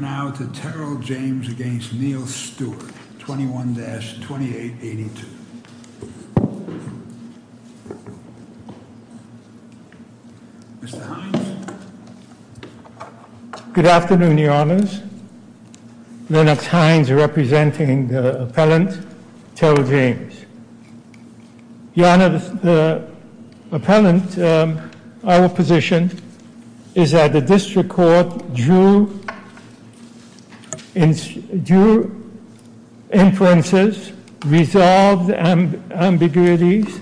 We turn now to Terrell James v. Neal Stewart, 21-2882. Mr. Hines. Good afternoon, your honors. Lennox Hines representing the appellant, Terrell James. Your honor, the appellant, our position is that the district court drew inferences, resolved ambiguities,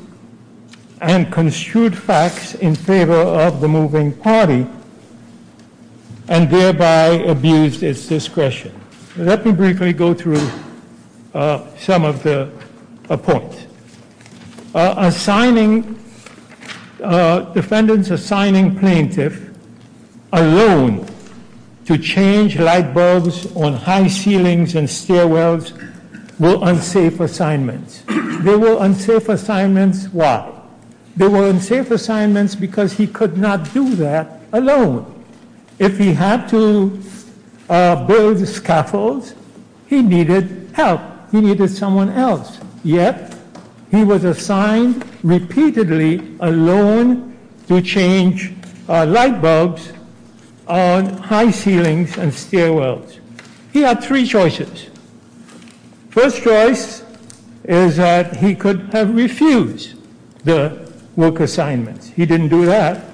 and construed facts in favor of the moving party, and thereby abused its discretion. Let me briefly go through some of the points. Assigning, defendant's assigning plaintiff alone to change light bulbs on high ceilings and stairwells were unsafe assignments. They were unsafe assignments, why? They were unsafe assignments because he could not do that alone. If he had to build scaffolds, he needed help. He needed someone else. Yet, he was assigned repeatedly alone to change light bulbs on high ceilings and stairwells. He had three choices. First choice is that he could have refused the work assignments. He didn't do that.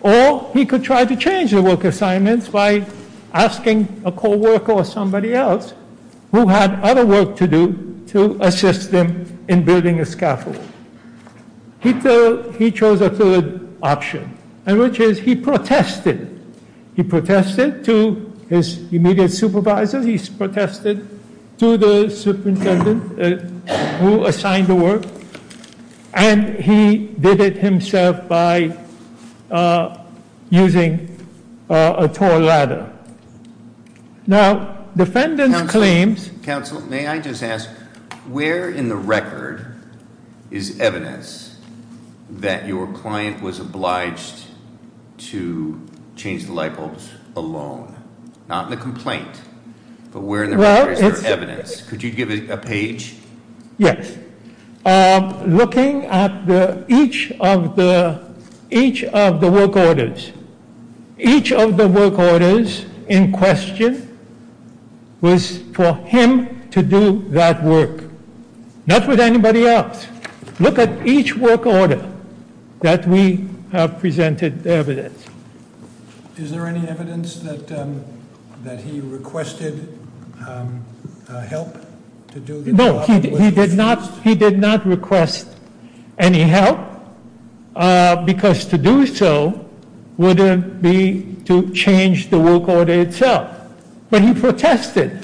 Or he could try to change the work assignments by asking a co-worker or assistant to assist him in building a scaffold. He chose a third option, and which is he protested. He protested to his immediate supervisor. He protested to the superintendent who assigned the work. And he did it himself by using a tall ladder. Now, defendant claims- Where in the record is evidence that your client was obliged to change the light bulbs alone? Not in the complaint, but where in the record is there evidence? Could you give a page? Yes, looking at each of the work orders. Each of the work orders in question was for him to do that work. Not with anybody else. Look at each work order that we have presented evidence. Is there any evidence that he requested help to do the job? No, he did not request any help. Because to do so would be to change the work order itself. But he protested.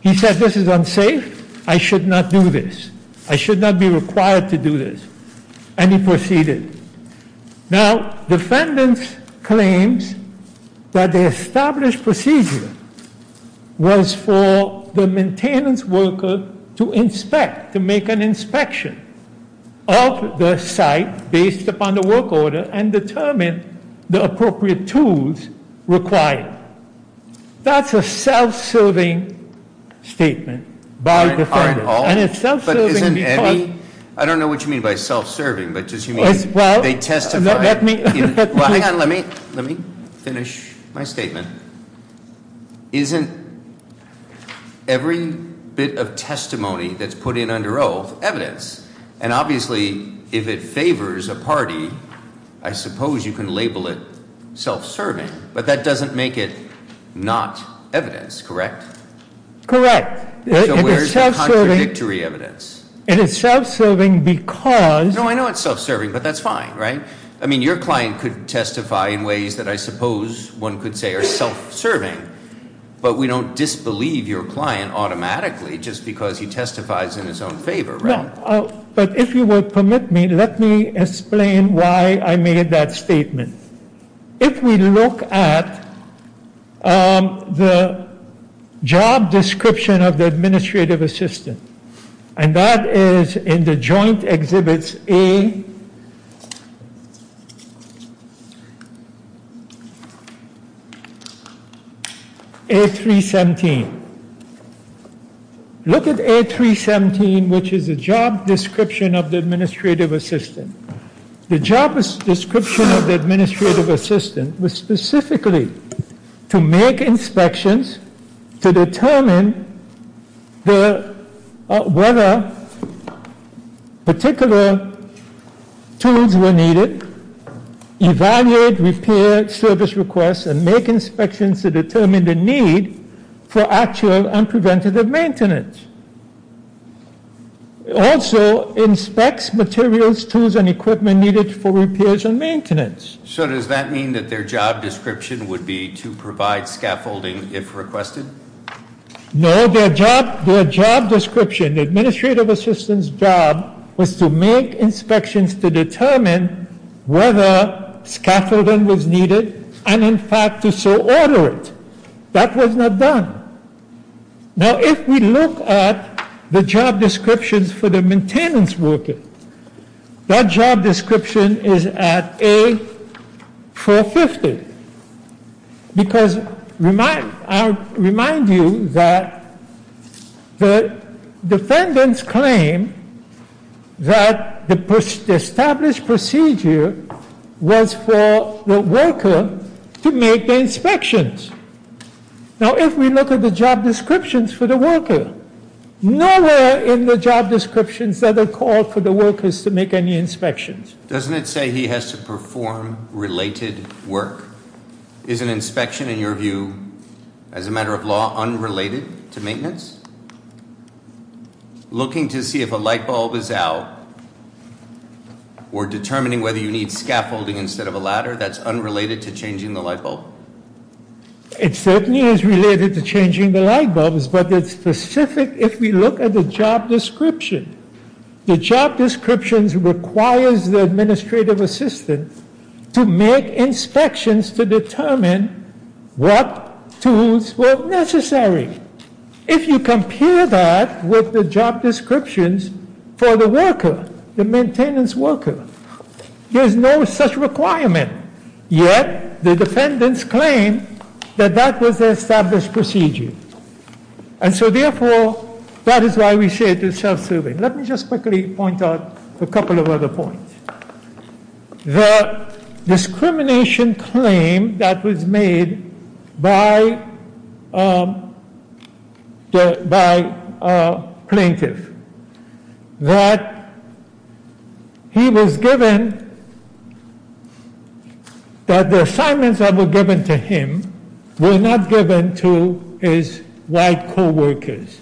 He said, this is unsafe. I should not do this. I should not be required to do this. And he proceeded. Now, defendants claims that the established procedure was for the maintenance worker to inspect, to make an inspection of the site based upon the work order and determine the appropriate tools required. That's a self-serving statement by the defendant. And it's self-serving because- I don't know what you mean by self-serving, but does he mean they testify? Hang on, let me finish my statement. Isn't every bit of testimony that's put in under oath evidence? And obviously, if it favors a party, I suppose you can label it self-serving. But that doesn't make it not evidence, correct? Correct. It is self-serving- So where's the contradictory evidence? It is self-serving because- No, I know it's self-serving, but that's fine, right? I mean, your client could testify in ways that I suppose one could say are self-serving. But we don't disbelieve your client automatically just because he testifies in his own favor, right? But if you would permit me, let me explain why I made that statement. If we look at the job description of the administrative assistant, And that is in the joint exhibits A317. Look at A317, which is a job description of the administrative assistant. The job description of the administrative assistant was specifically to make inspections to determine whether particular tools were needed. Evaluate repair service requests and make inspections to determine the need for actual and preventative maintenance. Also, inspects materials, tools, and equipment needed for repairs and maintenance. So does that mean that their job description would be to provide scaffolding if requested? No, their job description, the administrative assistant's job was to make inspections to determine whether scaffolding was needed, and in fact to so order it. That was not done. Now if we look at the job descriptions for the maintenance worker, That job description is at A450. Because I remind you that the defendants claim that the established procedure was for the worker to make the inspections. Now if we look at the job descriptions for the worker, nowhere in the job descriptions that are called for the workers to make any inspections. Doesn't it say he has to perform related work? Is an inspection in your view, as a matter of law, unrelated to maintenance? Looking to see if a light bulb is out or determining whether you need scaffolding instead of a ladder, that's unrelated to changing the light bulb? It certainly is related to changing the light bulbs, but it's specific if we look at the job description. The job descriptions requires the administrative assistant to make inspections to determine what tools were necessary. If you compare that with the job descriptions for the worker, the maintenance worker, there's no such requirement. Yet, the defendants claim that that was the established procedure. And so therefore, that is why we say it is self-serving. Let me just quickly point out a couple of other points. The discrimination claim that was made by a plaintiff, that he was given, that the assignments that were given to him were not given to his white co-workers.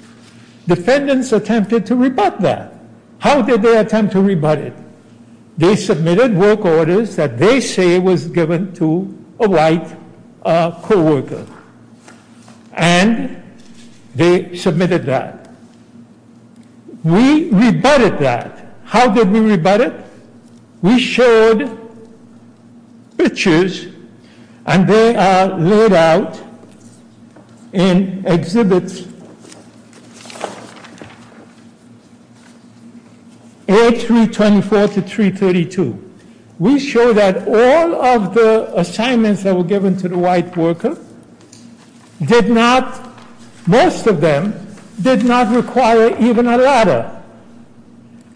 Defendants attempted to rebut that. How did they attempt to rebut it? They submitted work orders that they say was given to a white co-worker. And they submitted that. We rebutted that. How did we rebut it? We showed pictures and they are laid out in exhibits A324 to 332. We show that all of the assignments that were given to the white worker did not, most of them, did not require even a ladder.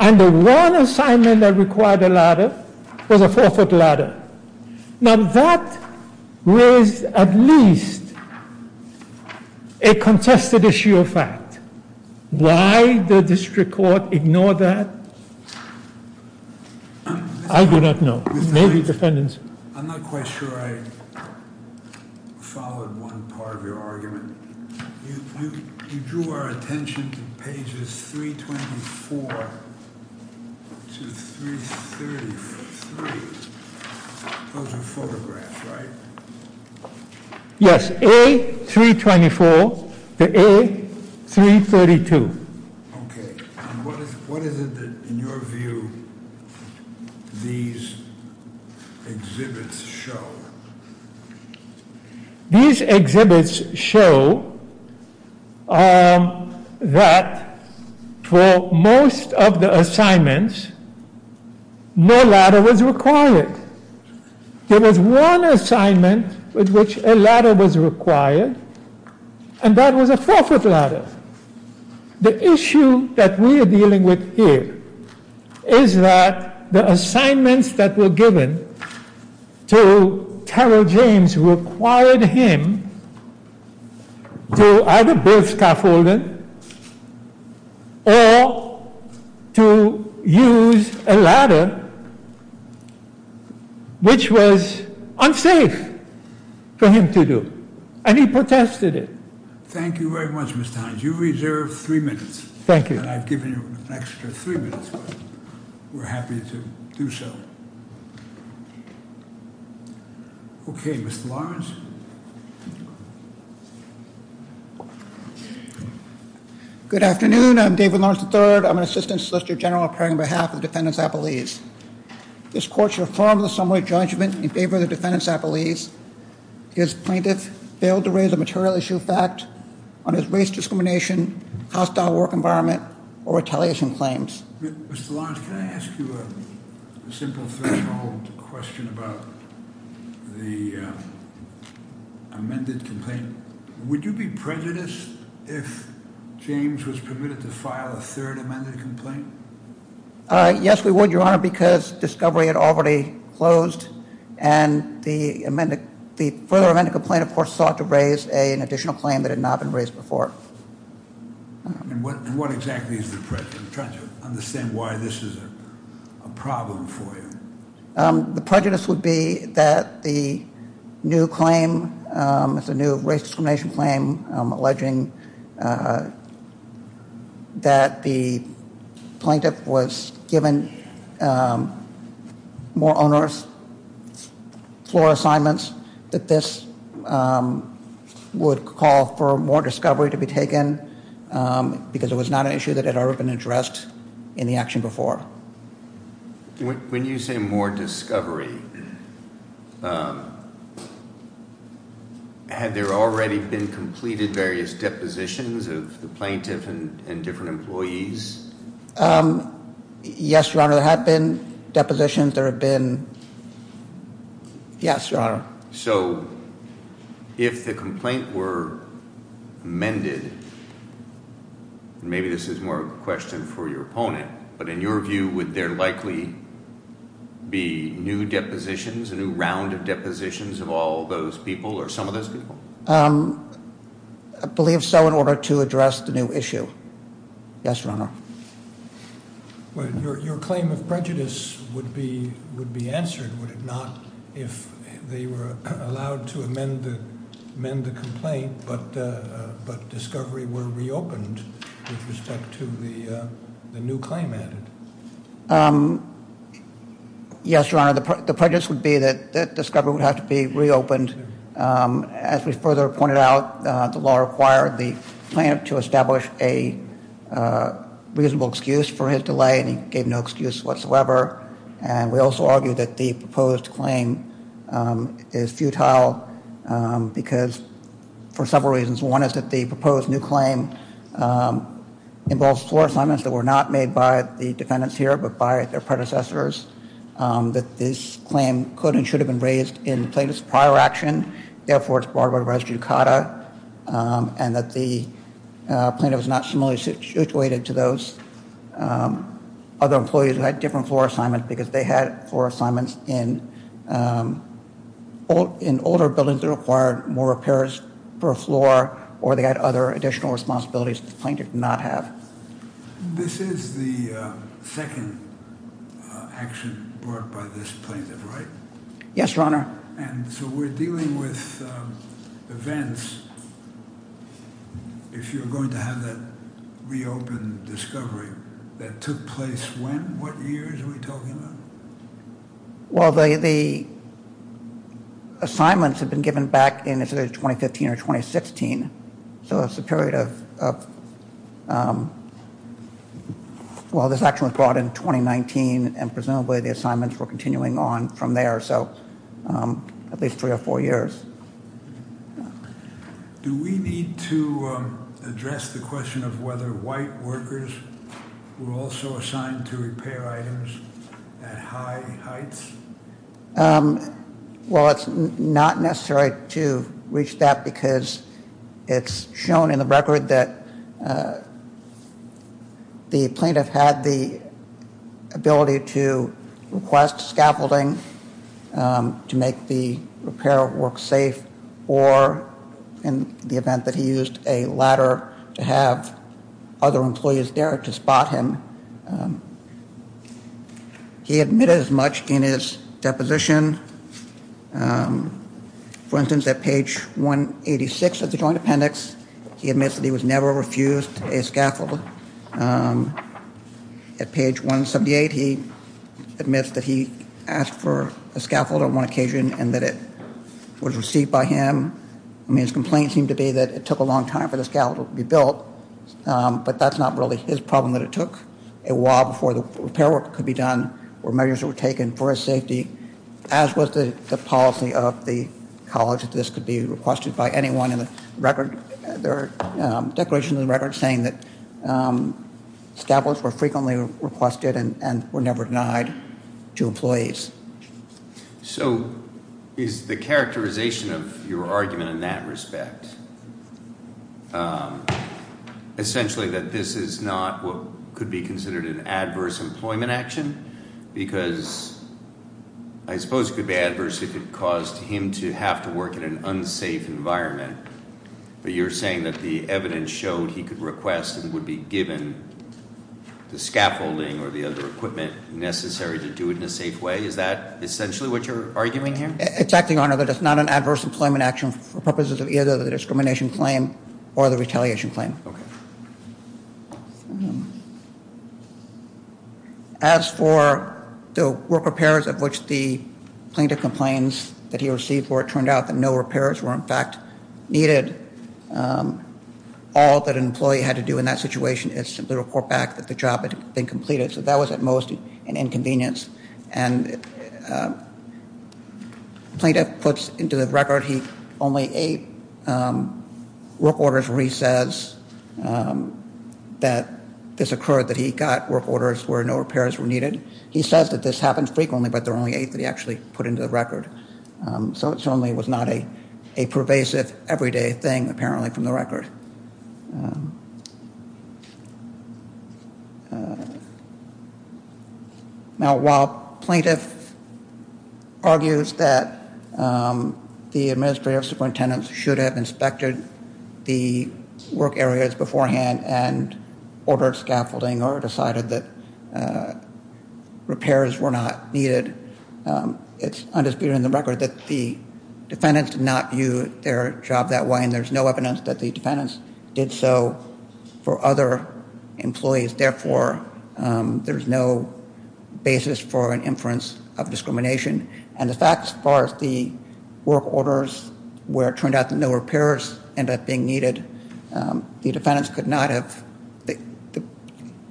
And the one assignment that required a ladder was a four foot ladder. Now that raised at least a contested issue of fact. Why did the district court ignore that? I do not know. Maybe defendants- I followed one part of your argument. You drew our attention to pages 324 to 333. Those are photographs, right? Yes, A324 to A332. Okay, and what is it that, in your view, these exhibits show? These exhibits show that for most of the assignments, no ladder was required. There was one assignment with which a ladder was required, and that was a four foot ladder. The issue that we are dealing with here is that the assignments that were given to Terrell James required him to either build scaffolding or to use a ladder, which was unsafe for him to do. And he protested it. Thank you very much, Mr. Hines. You reserve three minutes. Thank you. And I've given you an extra three minutes, but we're happy to do so. Okay, Mr. Lawrence. Good afternoon, I'm David Lawrence III. I'm an Assistant Solicitor General appearing on behalf of the Defendants Appellees. This court should affirm the summary judgment in favor of the Defendants Appellees. His plaintiff failed to raise a material issue of fact on his race discrimination, hostile work environment, or retaliation claims. Mr. Lawrence, can I ask you a simple threshold question about the amended complaint? Would you be prejudiced if James was permitted to file a third amended complaint? Yes, we would, Your Honor, because discovery had already closed. And the further amended complaint, of course, sought to raise an additional claim that had not been raised before. And what exactly is the prejudice? I'm trying to understand why this is a problem for you. The prejudice would be that the new claim, it's a new race discrimination claim, alleging that the plaintiff was given more onerous floor assignments, that this would call for more discovery to be taken. Because it was not an issue that had ever been addressed in the action before. When you say more discovery, had there already been completed various depositions of the plaintiff and different employees? Yes, Your Honor, there have been depositions, there have been, yes, Your Honor. So, if the complaint were amended, maybe this is more of a question for your opponent, but in your view, would there likely be new depositions, a new round of depositions of all those people, or some of those people? I believe so, in order to address the new issue. Yes, Your Honor. Well, your claim of prejudice would be answered, would it not, if they were allowed to amend the complaint, but discovery were reopened with respect to the new claim added? Yes, Your Honor, the prejudice would be that discovery would have to be reopened. And as we further pointed out, the law required the plaintiff to establish a reasonable excuse for his delay, and he gave no excuse whatsoever. And we also argue that the proposed claim is futile because for several reasons, one is that the proposed new claim involves floor assignments that were not made by the defendants here, but by their predecessors, that this claim could and raised in plaintiff's prior action, therefore, it's barred by the res judicata, and that the plaintiff is not similarly situated to those other employees who had different floor assignments, because they had floor assignments in older buildings that required more repairs per floor, or they had other additional responsibilities that the plaintiff did not have. This is the second action brought by this plaintiff, right? Yes, Your Honor. And so we're dealing with events. If you're going to have that reopened discovery, that took place when? What year are we talking about? Well, the assignments have been given back in either 2015 or 2016. So it's a period of, well, this action was brought in 2019 and presumably the assignments were continuing on from there, so at least three or four years. Do we need to address the question of whether white workers were also assigned to repair items at high heights? Well, it's not necessary to reach that because it's shown in the record that the plaintiff had the ability to request scaffolding to make the repair work safe, or in the event that he used a ladder to have other employees there to spot him. He admitted as much in his deposition, for example, that he used a scaffold. At page 178, he admits that he asked for a scaffold on one occasion and that it was received by him. I mean, his complaint seemed to be that it took a long time for the scaffold to be built, but that's not really his problem, that it took a while before the repair work could be done, or measures were taken for his safety, as was the policy of the college, that this could be requested by anyone in the record. There are declarations in the record saying that scaffolds were frequently requested and were never denied to employees. So is the characterization of your argument in that respect essentially that this is not what could be considered an adverse employment action? Because I suppose it could be adverse if it caused him to have to work in an unsafe environment. But you're saying that the evidence showed he could request and would be given the scaffolding or the other equipment necessary to do it in a safe way. Is that essentially what you're arguing here? It's acting on it, that it's not an adverse employment action for purposes of either the discrimination claim or the retaliation claim. Okay. As for the work repairs of which the plaintiff complains that he received, where it turned out that no repairs were, in fact, needed, all that an employee had to do in that situation is simply report back that the job had been completed. So that was, at most, an inconvenience. And Plaintiff puts into the record he only eight work orders where he says that this occurred, that he got work orders where no repairs were needed. He says that this happens frequently, but there are only eight that he actually put into the record. So it certainly was not a pervasive, everyday thing, apparently, from the record. Now, while Plaintiff argues that the administrative superintendents should have inspected the work areas beforehand and ordered scaffolding or decided that repairs were not needed, it's understood in the record that the defendants did not view their job that way. And there's no evidence that the defendants did so for other employees. Therefore, there's no basis for an inference of discrimination. And the fact, as far as the work orders, where it turned out that no repairs ended up being needed, the defendants could not have, the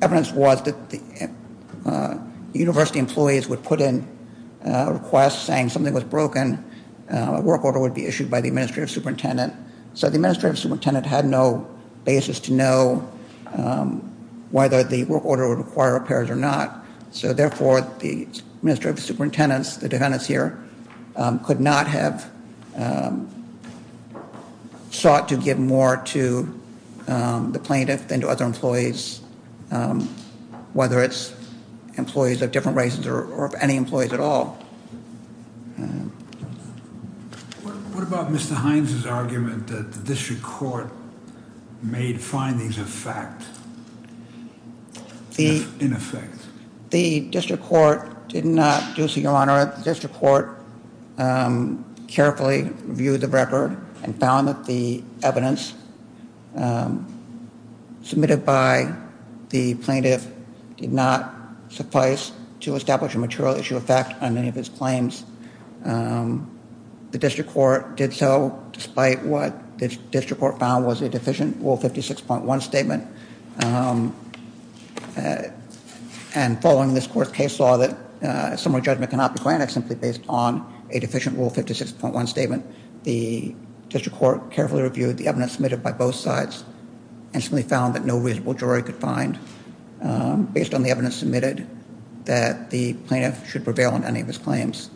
evidence was that the university employees would put in a request saying something was broken. A work order would be issued by the administrative superintendent. So the administrative superintendent had no basis to know whether the work order would require repairs or not. So therefore, the administrative superintendents, the defendants here, could not have sought to give more to the plaintiff than to other employees. Whether it's employees of different races or of any employees at all. What about Mr. Hines' argument that the district court made findings of fact, in effect? The district court did not do so, your honor. The district court carefully reviewed the record and found that the evidence submitted by the plaintiff did not suffice to establish a material issue of fact on any of his claims. The district court did so despite what the district court found was a deficient rule 56.1 statement. And following this court case law that a similar judgment cannot be granted simply based on a deficient rule 56.1 statement. The district court carefully reviewed the evidence submitted by both sides and simply found that no reasonable jury could find, based on the evidence submitted, that the plaintiff should prevail on any of his claims.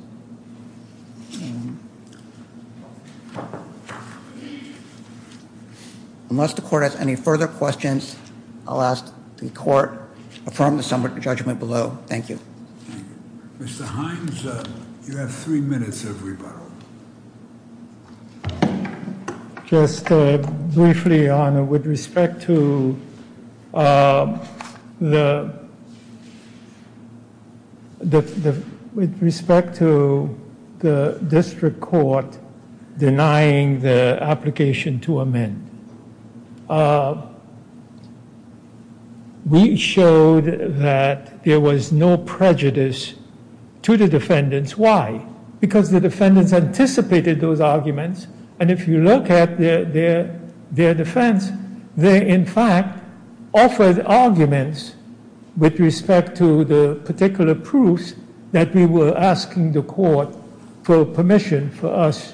Unless the court has any further questions, I'll ask the court to affirm the summary judgment below. Thank you. Mr. Hines, you have three minutes of rebuttal. Just briefly, your honor, with respect to the, with respect to the district court denying the application to amend. We showed that there was no prejudice to the defendants, why? Because the defendants anticipated those arguments, and if you look at their defense, they in fact offered arguments with respect to the particular proofs that we were asking the court for permission for us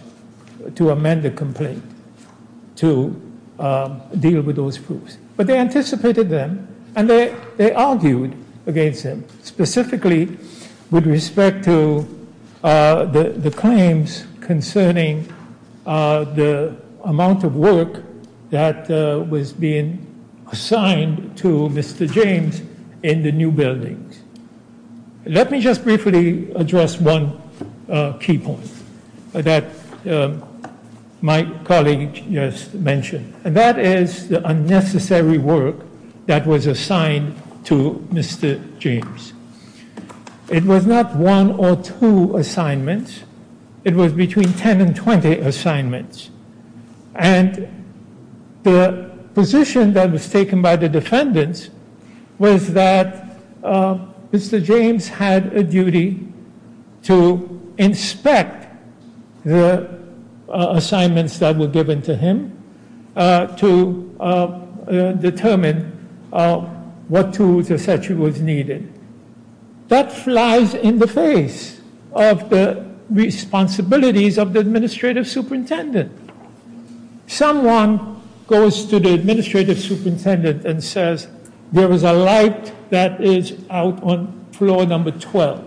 to amend the complaint. To deal with those proofs. But they anticipated them, and they argued against them. Specifically, with respect to the claims concerning the amount of work that was being assigned to Mr. James in the new buildings. Let me just briefly address one key point that my colleague just mentioned. And that is the unnecessary work that was assigned to Mr. James. It was not one or two assignments. It was between 10 and 20 assignments. And the position that was taken by the defendants was that Mr. James had a duty to inspect the assignments that were given to him. To determine what tools, et cetera, was needed. That flies in the face of the responsibilities of the administrative superintendent. Someone goes to the administrative superintendent and says, there was a light that is out on floor number 12.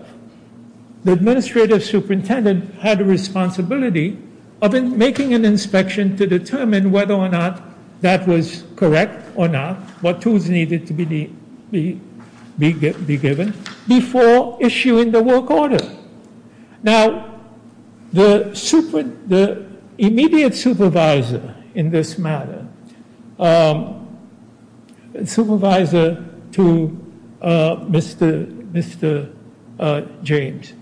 The administrative superintendent had a responsibility of making an inspection to determine whether or not that was correct or not. What tools needed to be given before issuing the work order. Now, the immediate supervisor in this matter, supervisor to Mr. James.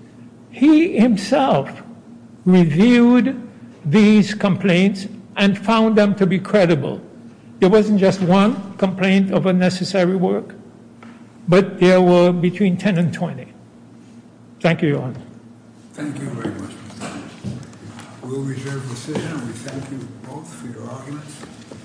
He himself reviewed these complaints and found them to be credible. It wasn't just one complaint of unnecessary work, but there were between 10 and 20. Thank you, Your Honor. Thank you very much. We'll reserve the decision and we thank you both for your arguments.